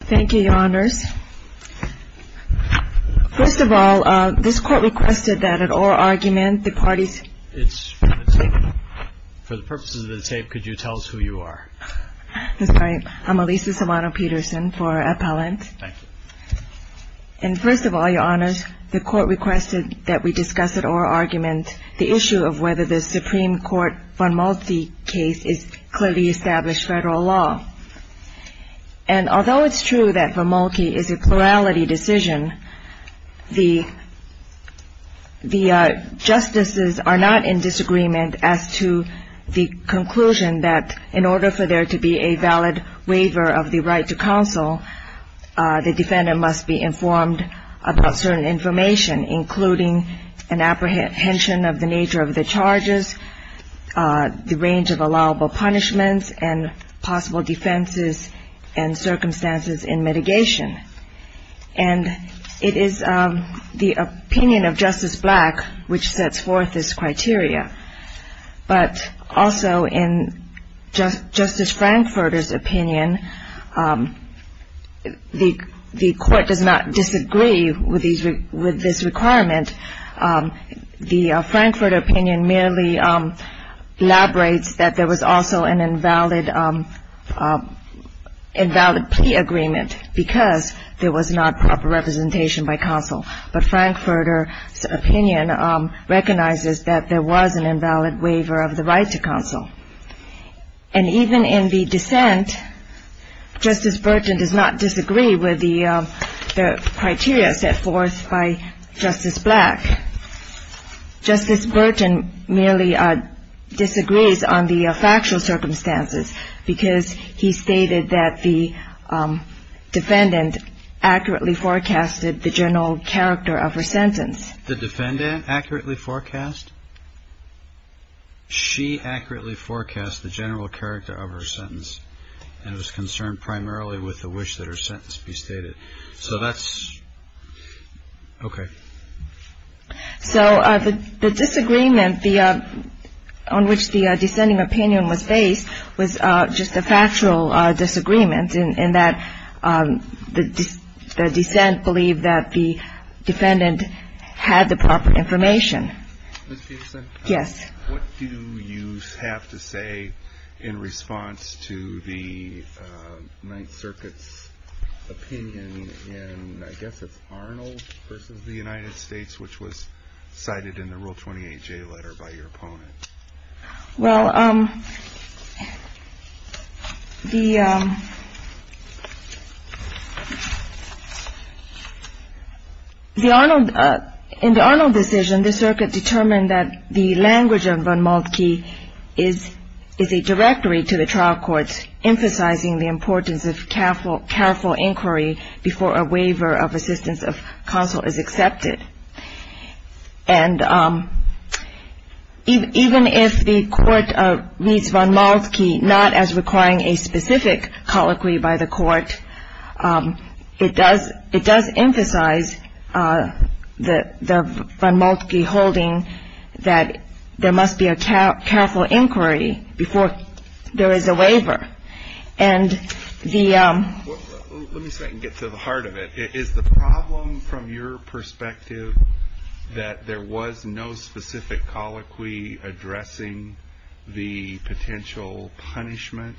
Thank you, Your Honors. First of all, this Court requested that at oral argument, the parties It's for the purposes of the tape, could you tell us who you are? I'm Alisa Silvano-Peterson for Appellant. Thank you. And first of all, Your Honors, the Court requested that we discuss at oral argument the issue of whether the Supreme Court case is clearly established federal law. And although it's true that Von Moltke is a plurality decision, the justices are not in disagreement as to the conclusion that in order for there to be a valid waiver of the right to counsel, the defendant must be informed about certain information, including an apprehension of the nature of the charges, the range of allowable punishments, and possible defenses and circumstances in mitigation. And it is the opinion of Justice Black which sets forth this criteria. But also in Justice Frankfurter's opinion, the Court does not disagree with this requirement. The Frankfurter opinion merely elaborates that there was also an invalid plea agreement because there was not proper representation by counsel. But Frankfurter's opinion recognizes that there was an invalid waiver of the right to counsel. And even in the dissent, Justice Burton does not disagree with the criteria set forth by Frankfurter. Justice Black, Justice Burton merely disagrees on the factual circumstances because he stated that the defendant accurately forecasted the general character of her sentence. The defendant accurately forecast? She accurately forecast the general character of her sentence and was concerned primarily with the wish that her sentence be stated. So that's okay. So the disagreement on which the dissenting opinion was based was just a factual disagreement in that the dissent believed that the defendant had the proper information. Ms. Peterson? Yes. What do you have to say in response to the Ninth Circuit's opinion in, I guess it's Arnold versus the United States, which was cited in the Rule 28J letter by your opponent? Well, the Arnold, in the Arnold decision, the Circuit determined that the defendant had the proper information. The language of von Maltke is a directory to the trial courts emphasizing the importance of careful inquiry before a waiver of assistance of counsel is accepted. And even if the court reads von Maltke not as requiring a specific colloquy by the court, it does emphasize the von Maltke holding that there must be a careful inquiry before there is a waiver. And the... Let me see if I can get to the heart of it. Is the problem from your perspective that there was no specific colloquy addressing the potential punishment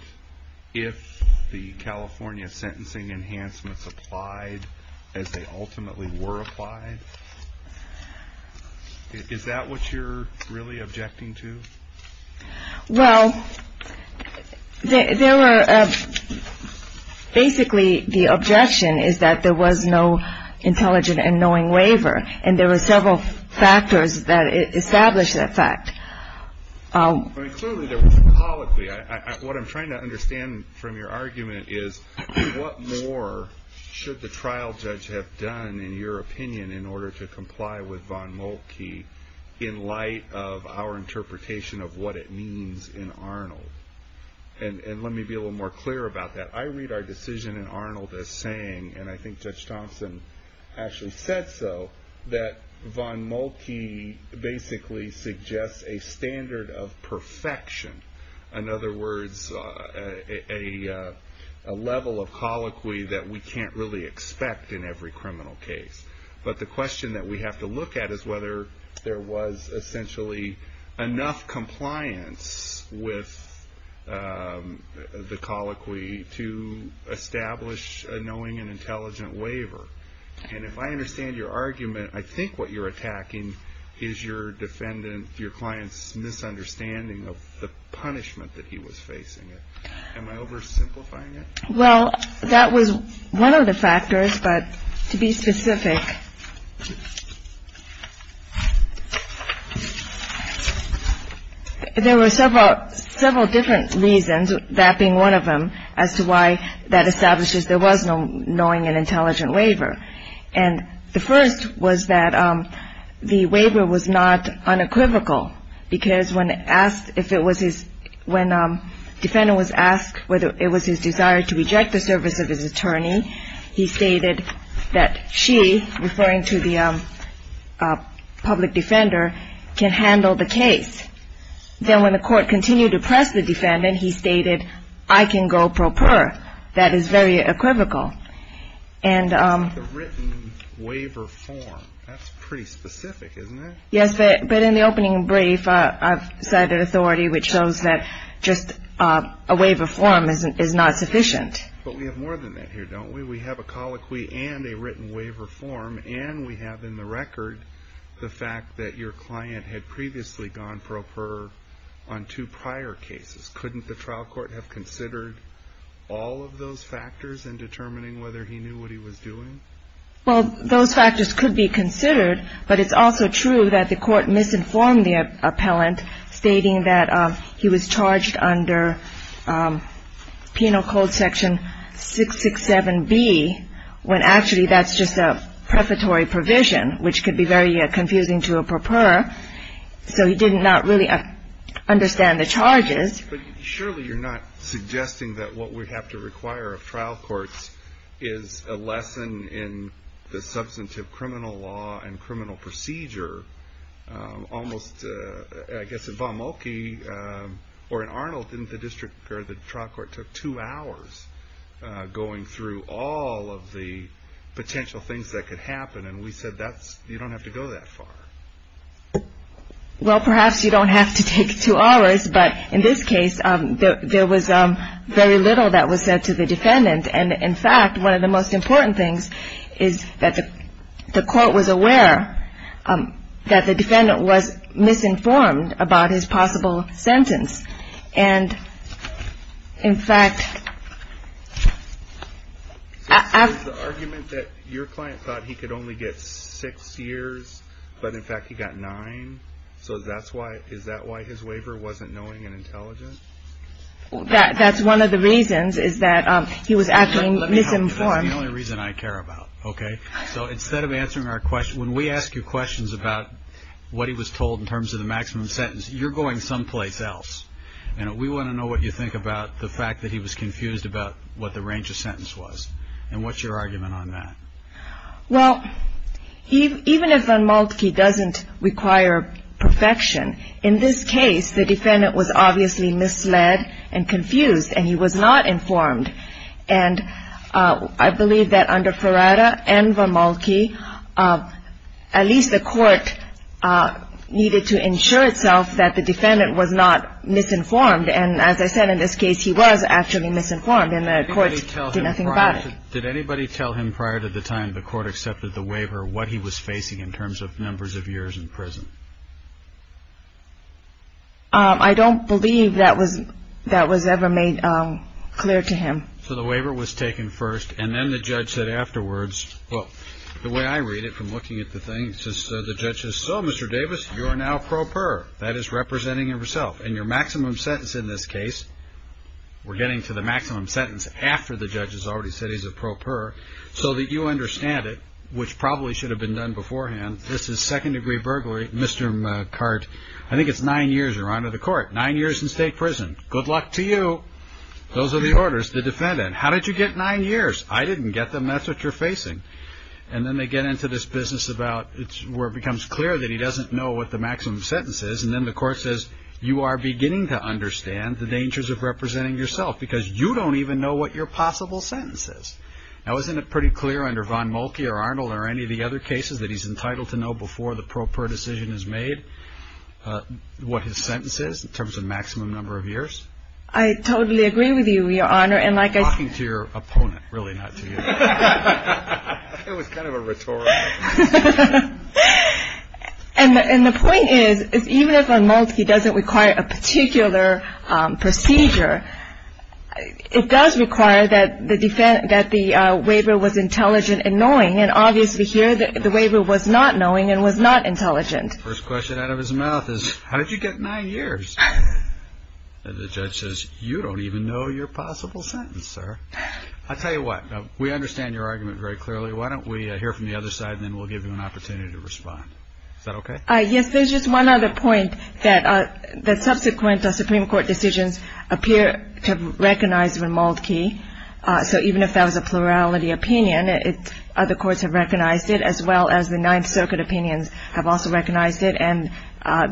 if the California sentencing enhancements applied as they ultimately were applied? Is that what you're really objecting to? Well, there were... Basically, the objection is that there was no intelligent and knowing waiver, and there were several factors that established that fact. Clearly, there was a colloquy. What I'm trying to understand from your argument is what more should the trial judge have done in your opinion in order to comply with von Maltke in light of our interpretation of what it means in Arnold? And let me be a little more clear about that. I read our decision in Arnold as saying, and I think Judge Thompson actually said so, that von Maltke basically suggests a standard of perfection. In other words, a level of colloquy that we can't really expect in every criminal case. But the question that we have to look at is whether there was essentially enough compliance with the colloquy to establish a knowing and intelligent waiver. And if I understand your argument, I think what you're attacking is your client's misunderstanding of the punishment that he was facing. Am I oversimplifying it? No. There were several different reasons, that being one of them, as to why that establishes there was no knowing and intelligent waiver. And the first was that the waiver was not unequivocal, because when asked, if it was his, when the defendant was asked whether it was his or not, referring to the public defender, can handle the case. Then when the court continued to press the defendant, he stated, I can go pro per. That is very equivocal. Yes, but in the opening brief, I've said authority, which shows that just a waiver form is not sufficient. But we have more than that here, don't we? We have a colloquy and a written waiver form, and we have in the record the fact that your client had previously gone pro per on two prior cases. Couldn't the trial court have considered all of those factors in determining whether he knew what he was doing? Well, those factors could be considered, but it's also true that the court misinformed the appellant, stating that he was charged under Penal Code section 667B, when actually that's just a prefatory provision, which could be very confusing to a pro per, so he didn't not really understand the charges. But surely you're not suggesting that what we have to require of trial courts is a lesson in the substantive criminal law and criminal procedure. Almost, I guess, in Wamulki or in Arnold, didn't the district or the trial court took two hours? Going through all of the potential things that could happen, and we said you don't have to go that far. Well, perhaps you don't have to take two hours, but in this case, there was very little that was said to the defendant. And in fact, one of the most important things is that the court was aware that the defendant was misinformed about his possible sentence. And in fact... Is the argument that your client thought he could only get six years, but in fact he got nine? So is that why his waiver wasn't knowing and intelligent? That's one of the reasons, is that he was actually misinformed. That's the only reason I care about, okay? So instead of answering our question, when we ask you questions about what he was told in terms of the maximum sentence, you're going someplace else. And we want to know what you think about the fact that he was confused about what the range of sentence was, and what's your argument on that? Well, even if Wamulki doesn't require perfection, in this case, the defendant was obviously misled and confused, and he was not informed. And I believe that under Ferrara and Wamulki, at least the court needed to ensure itself that the defendant was not misinformed. And as I said, in this case, he was actually misinformed, and the court did nothing about it. Did anybody tell him prior to the time the court accepted the waiver what he was facing in terms of numbers of years in prison? I don't believe that was ever made clear to him. So the waiver was taken first, and then the judge said afterwards, well, the way I read it from looking at the thing, the judge says, so, Mr. Davis, you are now pro per, that is representing yourself. And your maximum sentence in this case, we're getting to the maximum sentence after the judge has already said he's a pro per, so that you understand it, which probably should have been done beforehand. This is second-degree burglary, Mr. McCart, I think it's nine years you're under the court, nine years in state prison. Good luck to you. Those are the orders the defendant, how did you get nine years? I didn't get them, that's what you're facing. And then they get into this business about, where it becomes clear that he doesn't know what the maximum sentence is, and then the court says, you are beginning to understand the dangers of representing yourself, because you don't even know what your possible sentence is. Now, isn't it pretty clear under Von Mulkey or Arnold or any of the other cases that he's entitled to know before the pro per decision is made what his sentence is in terms of maximum number of years? I totally agree with you, Your Honor, and like I said... I'm talking to your opponent, really not to you. It was kind of a rhetorical question. And the point is, even if Von Mulkey doesn't require a particular procedure, it does require that the waiver was intelligent and knowing, and obviously here the waiver was not knowing and was not intelligent. First question out of his mouth is, how did you get nine years? And the judge says, you don't even know your possible sentence, sir. I'll tell you what, we understand your argument very clearly. Why don't we hear from the other side, and then we'll give you an opportunity to respond. Is that okay? Yes, there's just one other point that subsequent Supreme Court decisions appear to have recognized Von Mulkey. So even if that was a plurality opinion, other courts have recognized it, as well as the Ninth Circuit opinions have also recognized it, and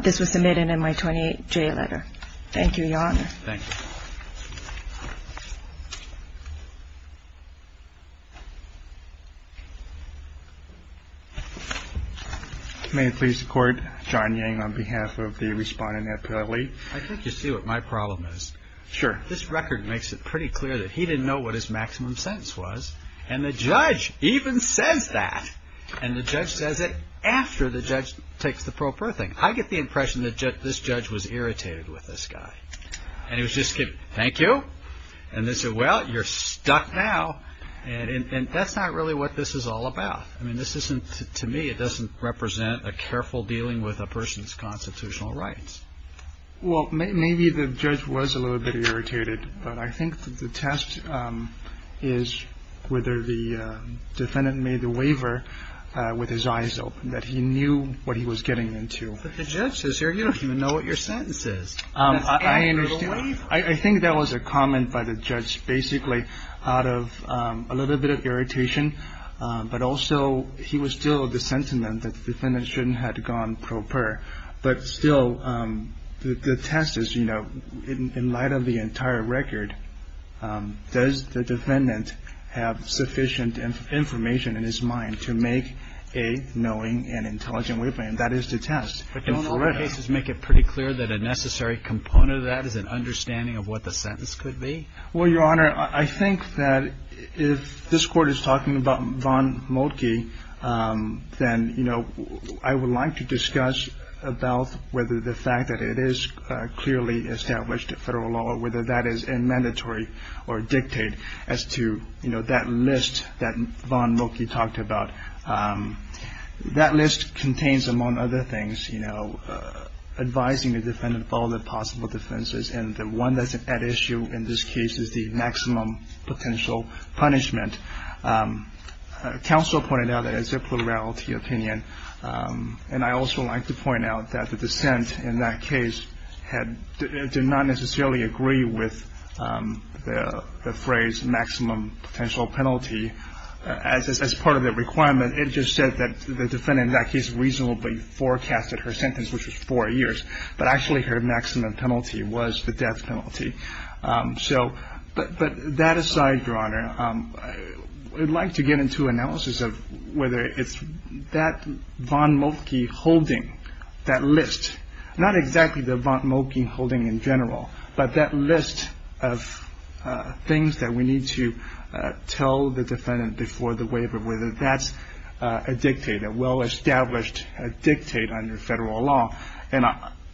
this was submitted in my 28-J letter. Thank you, Your Honor. May it please the Court, John Yang on behalf of the responding appellate. I think you see what my problem is. Sure. This record makes it pretty clear that he didn't know what his maximum sentence was, and the judge even says that, and the judge says it after the judge takes the pro per thing. I get the impression that this judge was irritated with this guy, and he was just giving, thank you? And they said, well, you're stuck now, and that's not really what this is all about. I mean, this isn't, to me, it doesn't represent a careful dealing with a person's constitutional rights. Well, maybe the judge was a little bit irritated, but I think that the test is whether the defendant made the waiver with his eyes open, that he knew what he was getting into. But the judge says, sir, you don't even know what your sentence is. I understand. I think that was a comment by the judge basically out of a little bit of irritation, but also he was still of the sentiment that the defendant shouldn't have gone pro per, but still the test is, you know, in light of the entire record, does the defendant have sufficient information in his mind to make a knowing and intelligent waiver? And that is the test. But don't all the cases make it pretty clear that a necessary component of that is an understanding of what the sentence could be? Well, Your Honor, I think that if this Court is talking about Von Moltke, then, you know, I would like to discuss about whether the fact that it is clearly established federal law or whether that is a mandatory or dictate as to, you know, that list that Von Moltke talked about. That list contains, among other things, you know, advising the defendant of all the possible defenses. And the one that's at issue in this case is the maximum potential punishment. Counsel pointed out that it's a plurality opinion, and I also like to point out that the dissent in that case did not necessarily agree with the phrase maximum potential penalty. As part of the requirement, it just said that the defendant in that case reasonably forecasted her sentence, which was four years, but actually her maximum penalty was the death penalty. So but that aside, Your Honor, I would like to get into analysis of whether it's that Von Moltke holding, that list. Not exactly the Von Moltke holding in general, but that list of things that we need to tell the defendant before the waiver, whether that's a dictate, a well-established dictate under federal law. And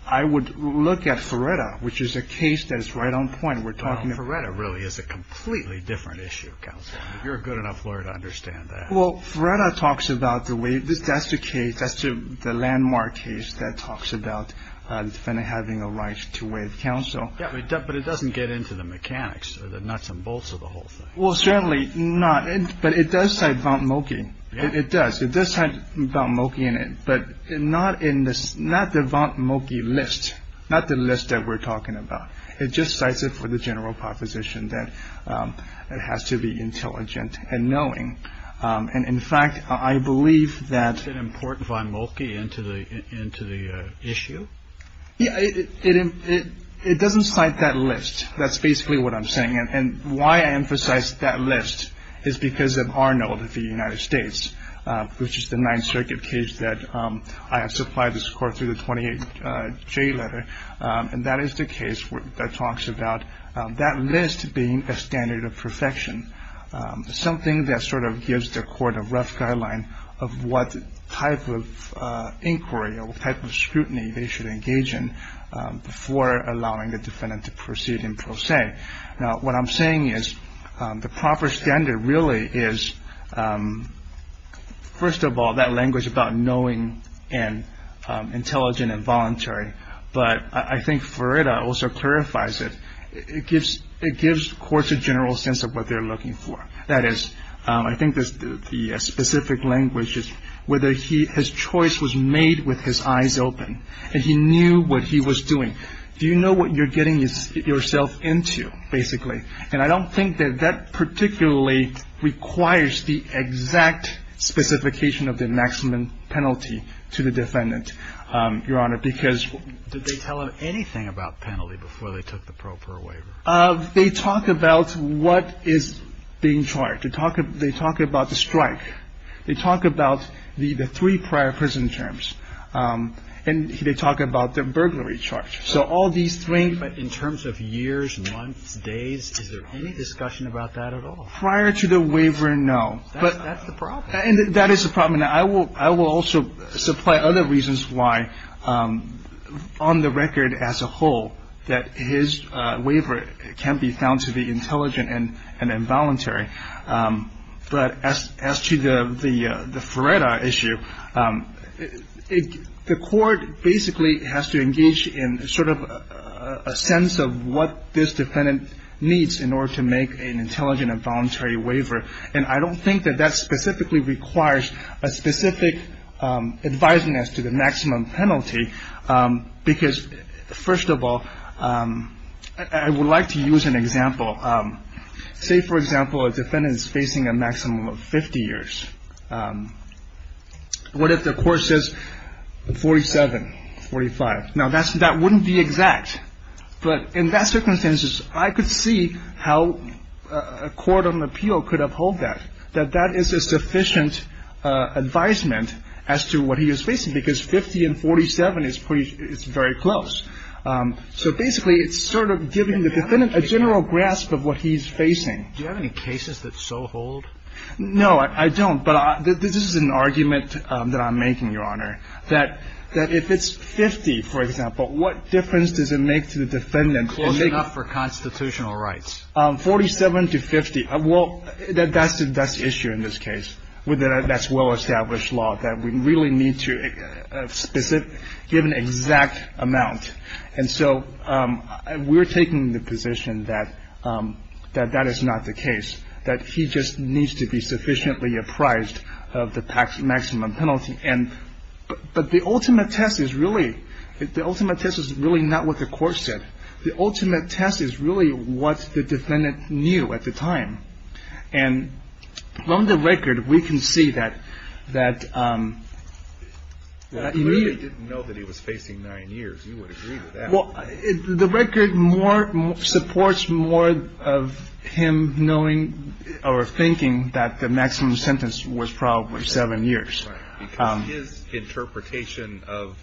I would look at Feretta, which is a case that is right on point. We're talking about. Feretta really is a completely different issue, Counsel. You're a good enough lawyer to understand that. Well, Feretta talks about the way that's the case. That's the landmark case that talks about the defendant having a right to waive counsel. Yeah, but it doesn't get into the mechanics or the nuts and bolts of the whole thing. Well, certainly not. But it does say Von Moltke. It does. It does say Von Moltke in it. But not in this, not the Von Moltke list, not the list that we're talking about. It just cites it for the general proposition that it has to be intelligent and knowing. And in fact, I believe that an important Von Moltke into the into the issue. It doesn't cite that list. That's basically what I'm saying. And why I emphasize that list is because of Arnold of the United States, which is the Ninth Circuit case that I have supplied this court through the 28th J letter. And that is the case that talks about that list being a standard of perfection, something that sort of gives the court a rough guideline of what type of inquiry or type of scrutiny they should engage in before allowing the defendant to proceed in pro se. Now, what I'm saying is the proper standard really is. First of all, that language about knowing and intelligent and voluntary. But I think for it also clarifies it. It gives it gives courts a general sense of what they're looking for. That is, I think the specific language is whether he his choice was made with his eyes open and he knew what he was doing. Do you know what you're getting yourself into, basically? And I don't think that that particularly requires the exact specification of the maximum penalty to the defendant, Your Honor, because they tell him anything about penalty before they took the proper waiver. They talk about what is being charged to talk. They talk about the strike. They talk about the three prior prison terms. And they talk about the burglary charge. So all these three. But in terms of years, months, days, is there any discussion about that at all? Prior to the waiver, no. But that's the problem. And that is the problem. I will I will also supply other reasons why on the record as a whole that his waiver can be found to be intelligent and involuntary. But as as to the the the Florida issue, the court basically has to engage in sort of a sense of what this defendant needs in order to make an intelligent and voluntary waiver. And I don't think that that specifically requires a specific advisement as to the maximum penalty, because, first of all, I would like to use an example. Say, for example, a defendant is facing a maximum of 50 years. What if the court says 47, 45? Now, that's that wouldn't be exact. But in that circumstances, I could see how a court on appeal could uphold that, that that is a sufficient advisement as to what he is facing, because 50 and 47 is pretty it's very close. So basically, it's sort of giving the defendant a general grasp of what he's facing. Do you have any cases that so hold? No, I don't. But this is an argument that I'm making, Your Honor, that that if it's 50, for example, what difference does it make to the defendant? Close enough for constitutional rights. 47 to 50. Well, that's the issue in this case. That's well-established law, that we really need to give an exact amount. And so we're taking the position that that is not the case, that he just needs to be sufficiently apprised of the maximum penalty. And but the ultimate test is really the ultimate test is really not what the court said. The ultimate test is really what the defendant knew at the time. And from the record, we can see that that he didn't know that he was facing nine years. Well, the record more supports more of him knowing or thinking that the maximum sentence was probably seven years. His interpretation of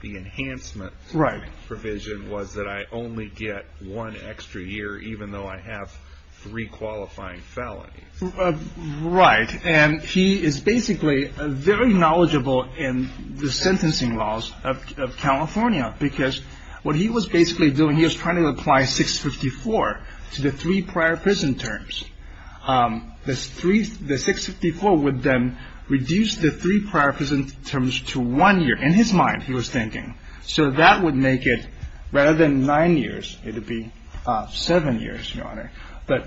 the enhancement. Right. Provision was that I only get one extra year, even though I have three qualifying felonies. Right. And he is basically very knowledgeable in the sentencing laws of California, because what he was basically doing, he was trying to apply 654 to the three prior prison terms. The three, the 654 would then reduce the three prior prison terms to one year in his mind, he was thinking. So that would make it rather than nine years. It would be seven years. But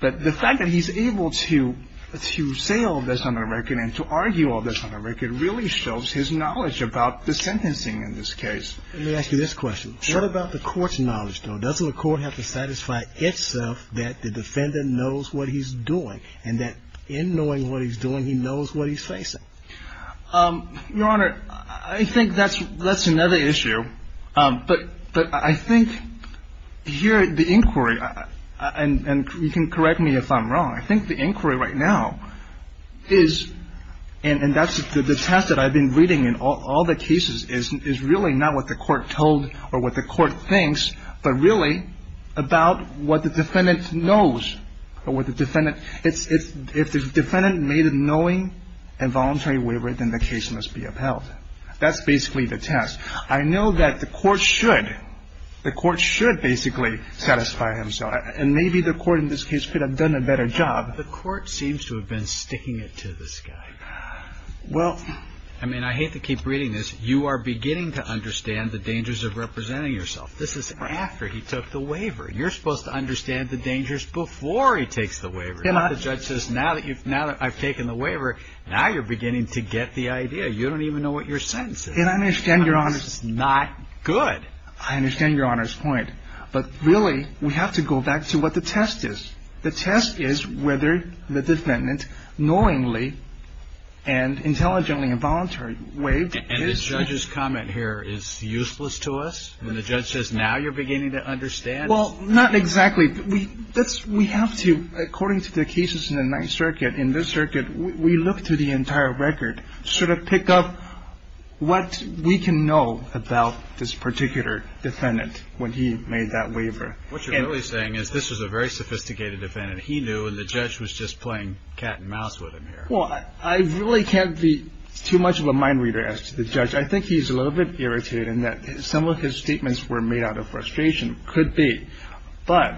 but the fact that he's able to to say all this on the record and to argue all this on the record really shows his knowledge about the sentencing in this case. Let me ask you this question. What about the court's knowledge, though? Doesn't the court have to satisfy itself that the defendant knows what he's doing and that in knowing what he's doing, he knows what he's facing? Your Honor, I think that's that's another issue. But but I think here the inquiry and you can correct me if I'm wrong. I think the inquiry right now is. And that's the test that I've been reading in all the cases is really not what the court told or what the court thinks, but really about what the defendant knows or what the defendant is. If the defendant made a knowing and voluntary waiver, then the case must be upheld. That's basically the test. I know that the court should the court should basically satisfy himself. And maybe the court in this case could have done a better job. The court seems to have been sticking it to this guy. Well, I mean, I hate to keep reading this. You are beginning to understand the dangers of representing yourself. This is after he took the waiver. You're supposed to understand the dangers before he takes the waiver. And the judge says now that you've now I've taken the waiver. Now you're beginning to get the idea. You don't even know what your sentence is. I understand your honor. It's not good. I understand your honor's point. But really, we have to go back to what the test is. The test is whether the defendant knowingly and intelligently and voluntarily waived. And the judge's comment here is useless to us. And the judge says now you're beginning to understand. Well, not exactly. We have to, according to the cases in the Ninth Circuit, in this circuit, we look through the entire record, sort of pick up what we can know about this particular defendant when he made that waiver. What you're really saying is this was a very sophisticated defendant he knew and the judge was just playing cat and mouse with him here. Well, I really can't be too much of a mind reader as to the judge. I think he's a little bit irritated in that some of his statements were made out of frustration. Could be. But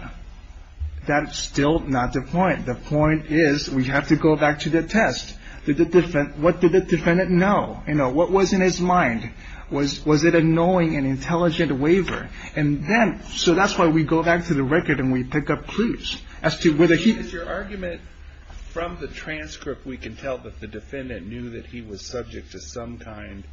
that's still not the point. The point is we have to go back to the test. What did the defendant know? What was in his mind? Was it a knowing and intelligent waiver? And then, so that's why we go back to the record and we pick up clues as to whether he. Is your argument from the transcript we can tell that the defendant knew that he was subject to some kind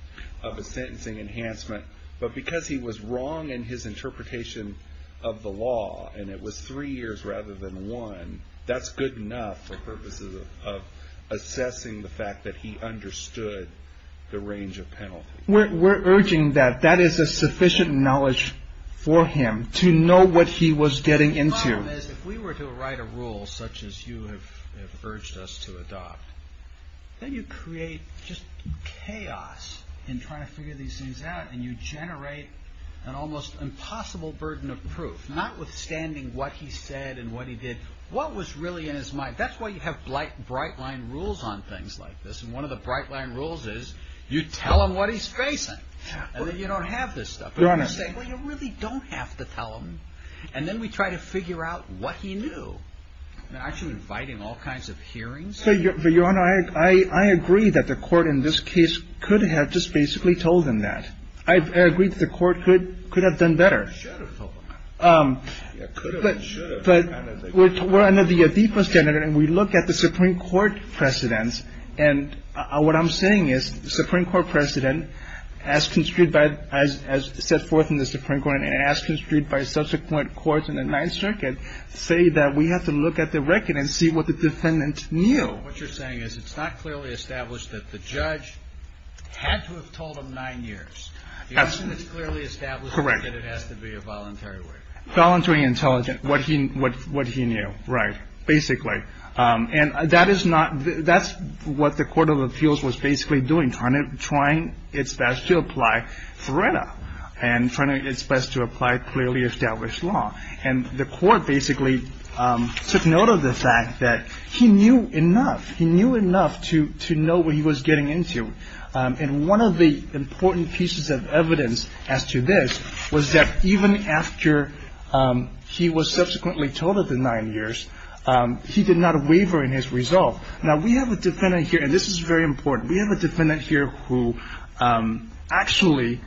of a sentencing enhancement, but because he was wrong in his interpretation of the law and it was three years rather than one, that's good enough for purposes of assessing the fact that he understood the range of penalty. We're urging that that is a sufficient knowledge for him to know what he was getting into. The problem is if we were to write a rule such as you have urged us to adopt, then you create just chaos in trying to figure these things out and you generate an almost impossible burden of proof, notwithstanding what he said and what he did, what was really in his mind. That's why you have bright line rules on things like this. And one of the bright line rules is you tell him what he's facing and then you don't have this stuff. Your Honor. Well, you really don't have to tell him. And then we try to figure out what he knew. And actually inviting all kinds of hearings. Your Honor, I agree that the court in this case could have just basically told him that. I agree that the court could have done better. But we're under the Adipo standard and we look at the Supreme Court precedents. And what I'm saying is the Supreme Court precedent, as set forth in the Supreme Court and as construed by subsequent courts in the Ninth Circuit, say that we have to look at the record and see what the defendant knew. What you're saying is it's not clearly established that the judge had to have told him nine years. You're saying it's clearly established that it has to be a voluntary way. Voluntary and intelligent. What he knew. Right. Basically. And that is not, that's what the Court of Appeals was basically doing, trying its best to apply FRERETA and trying its best to apply clearly established law. And the court basically took note of the fact that he knew enough. He knew enough to know what he was getting into. And one of the important pieces of evidence as to this was that even after he was subsequently told of the nine years, he did not waver in his resolve. Now, we have a defendant here, and this is very important. We have a defendant here who actually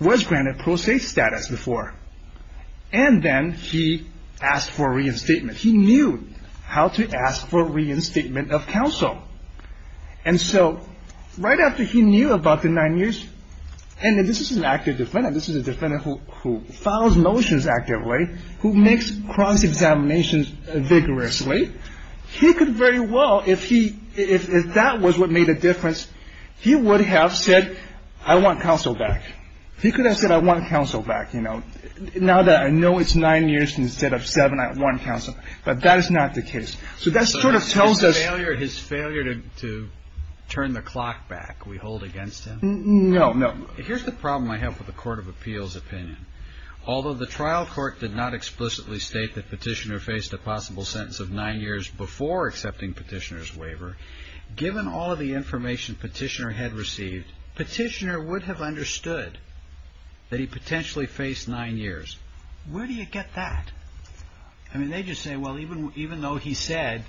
was granted pro se status before. And then he asked for reinstatement. He knew how to ask for reinstatement of counsel. And so right after he knew about the nine years, and this is an active defendant. This is a defendant who follows motions actively, who makes cross-examinations vigorously. He could very well, if he, if that was what made a difference, he would have said, I want counsel back. He could have said, I want counsel back. You know, now that I know it's nine years instead of seven, I want counsel. But that is not the case. So that sort of tells us his failure to turn the clock back. We hold against him. No, no. Here's the problem I have with the court of appeals opinion. Although the trial court did not explicitly state that Petitioner faced a possible sentence of nine years before accepting Petitioner's waiver, given all of the information Petitioner had received, Petitioner would have understood that he potentially faced nine years. Where do you get that? I mean, they just say, well, even though he said,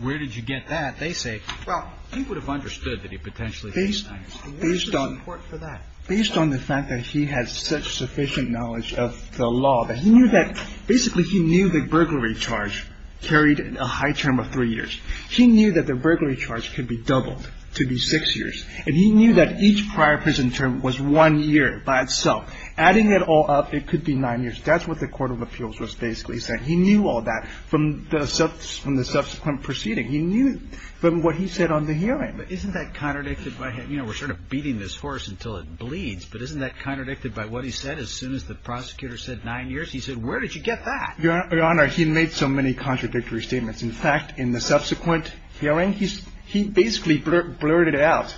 where did you get that? They say, well, he would have understood that he potentially faced nine years. And what's the support for that? Based on the fact that he had such sufficient knowledge of the law that he knew that basically he knew the burglary charge carried a high term of three years. He knew that the burglary charge could be doubled to be six years. And he knew that each prior prison term was one year by itself. Adding it all up, it could be nine years. That's what the court of appeals was basically saying. He knew all that from the subsequent proceeding. He knew from what he said on the hearing. But isn't that contradicted by him? You know, we're sort of beating this horse until it bleeds. But isn't that contradicted by what he said as soon as the prosecutor said nine years? He said, where did you get that? Your Honor, he made so many contradictory statements. In fact, in the subsequent hearing, he basically blurted out,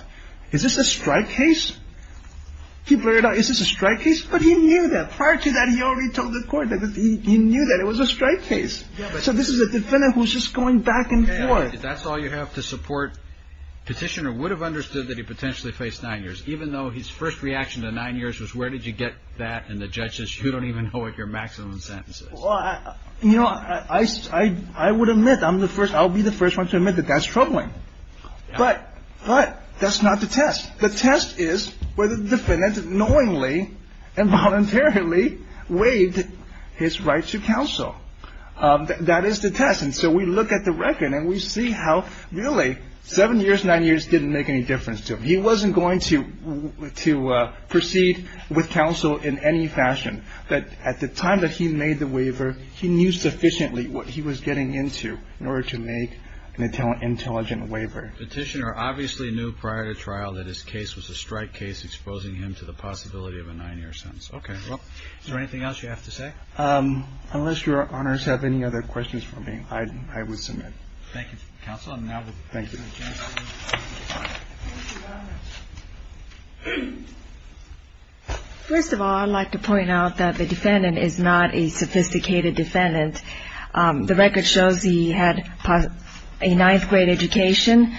is this a strike case? He blurted out, is this a strike case? But he knew that. Prior to that, he already told the court that he knew that it was a strike case. So this is a defendant who's just going back and forth. That's all you have to support. Petitioner would have understood that he potentially faced nine years, even though his first reaction to nine years was, where did you get that? And the judge says, you don't even know what your maximum sentence is. Well, you know, I would admit I'm the first. I'll be the first one to admit that that's troubling. But that's not the test. The test is whether the defendant knowingly and voluntarily waived his right to counsel. That is the test. And so we look at the record and we see how, really, seven years, nine years didn't make any difference to him. He wasn't going to proceed with counsel in any fashion. But at the time that he made the waiver, he knew sufficiently what he was getting into in order to make an intelligent waiver. Petitioner obviously knew prior to trial that his case was a strike case, exposing him to the possibility of a nine-year sentence. Okay. Is there anything else you have to say? Unless Your Honors have any other questions for me, I would submit. Thank you, counsel. Thank you. First of all, I'd like to point out that the defendant is not a sophisticated defendant. The record shows he had a ninth-grade education,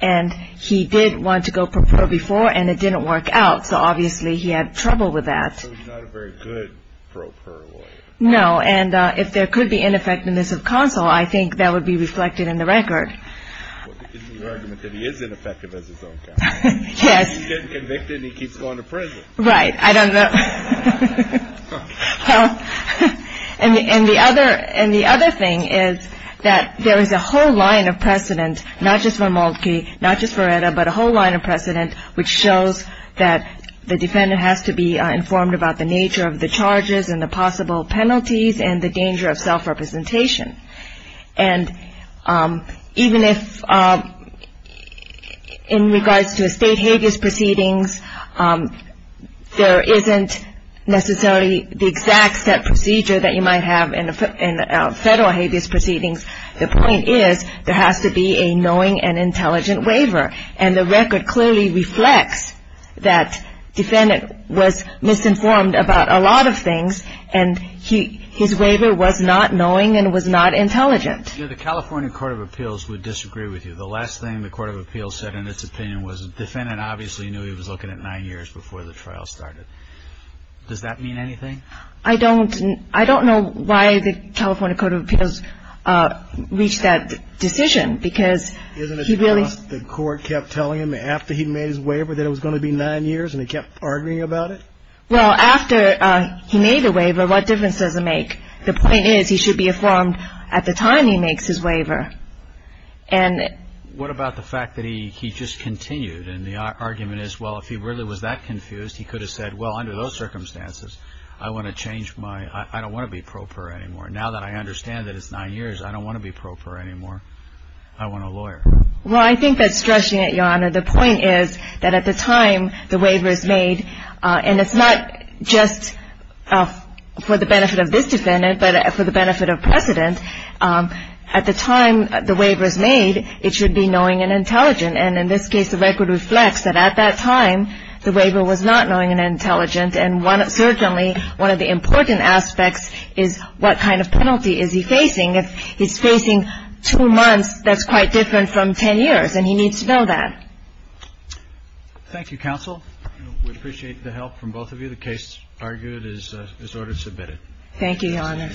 and he did want to go pro per before, and it didn't work out. So obviously he had trouble with that. So he's not a very good pro per lawyer. No. And if there could be ineffectiveness of counsel, I think that would be reflected in the record. Well, that gives me the argument that he is ineffective as his own counsel. Yes. He gets convicted and he keeps going to prison. Right. I don't know. And the other thing is that there is a whole line of precedent, not just for Moltke, not just for Etta, but a whole line of precedent which shows that the defendant has to be informed about the nature of the charges and the possible penalties and the danger of self-representation. And even if in regards to a state habeas proceedings, there isn't necessarily the exact set procedure that you might have in a federal habeas proceedings, the point is there has to be a knowing and intelligent waiver. And the record clearly reflects that defendant was misinformed about a lot of things, and his waiver was not knowing and was not intelligent. The California Court of Appeals would disagree with you. The last thing the Court of Appeals said in its opinion was the defendant obviously knew he was looking at nine years before the trial started. Does that mean anything? I don't know why the California Court of Appeals reached that decision because he really — Isn't it just the court kept telling him after he made his waiver that it was going to be nine years and he kept arguing about it? Well, after he made the waiver, what difference does it make? The point is he should be informed at the time he makes his waiver. And — What about the fact that he just continued and the argument is, well, if he really was that confused, he could have said, well, under those circumstances, I want to change my — I don't want to be pro per anymore. Now that I understand that it's nine years, I don't want to be pro per anymore. I want a lawyer. Well, I think that's stressing it, Your Honor. The point is that at the time the waiver is made, and it's not just for the benefit of this defendant, but for the benefit of precedent, at the time the waiver is made, it should be knowing and intelligent. And in this case, the record reflects that at that time the waiver was not knowing and intelligent, and certainly one of the important aspects is what kind of penalty is he facing. If he's facing two months, that's quite different from 10 years, and he needs to know that. Thank you, counsel. We appreciate the help from both of you. The case, argued, is ordered submitted. Thank you, Your Honor.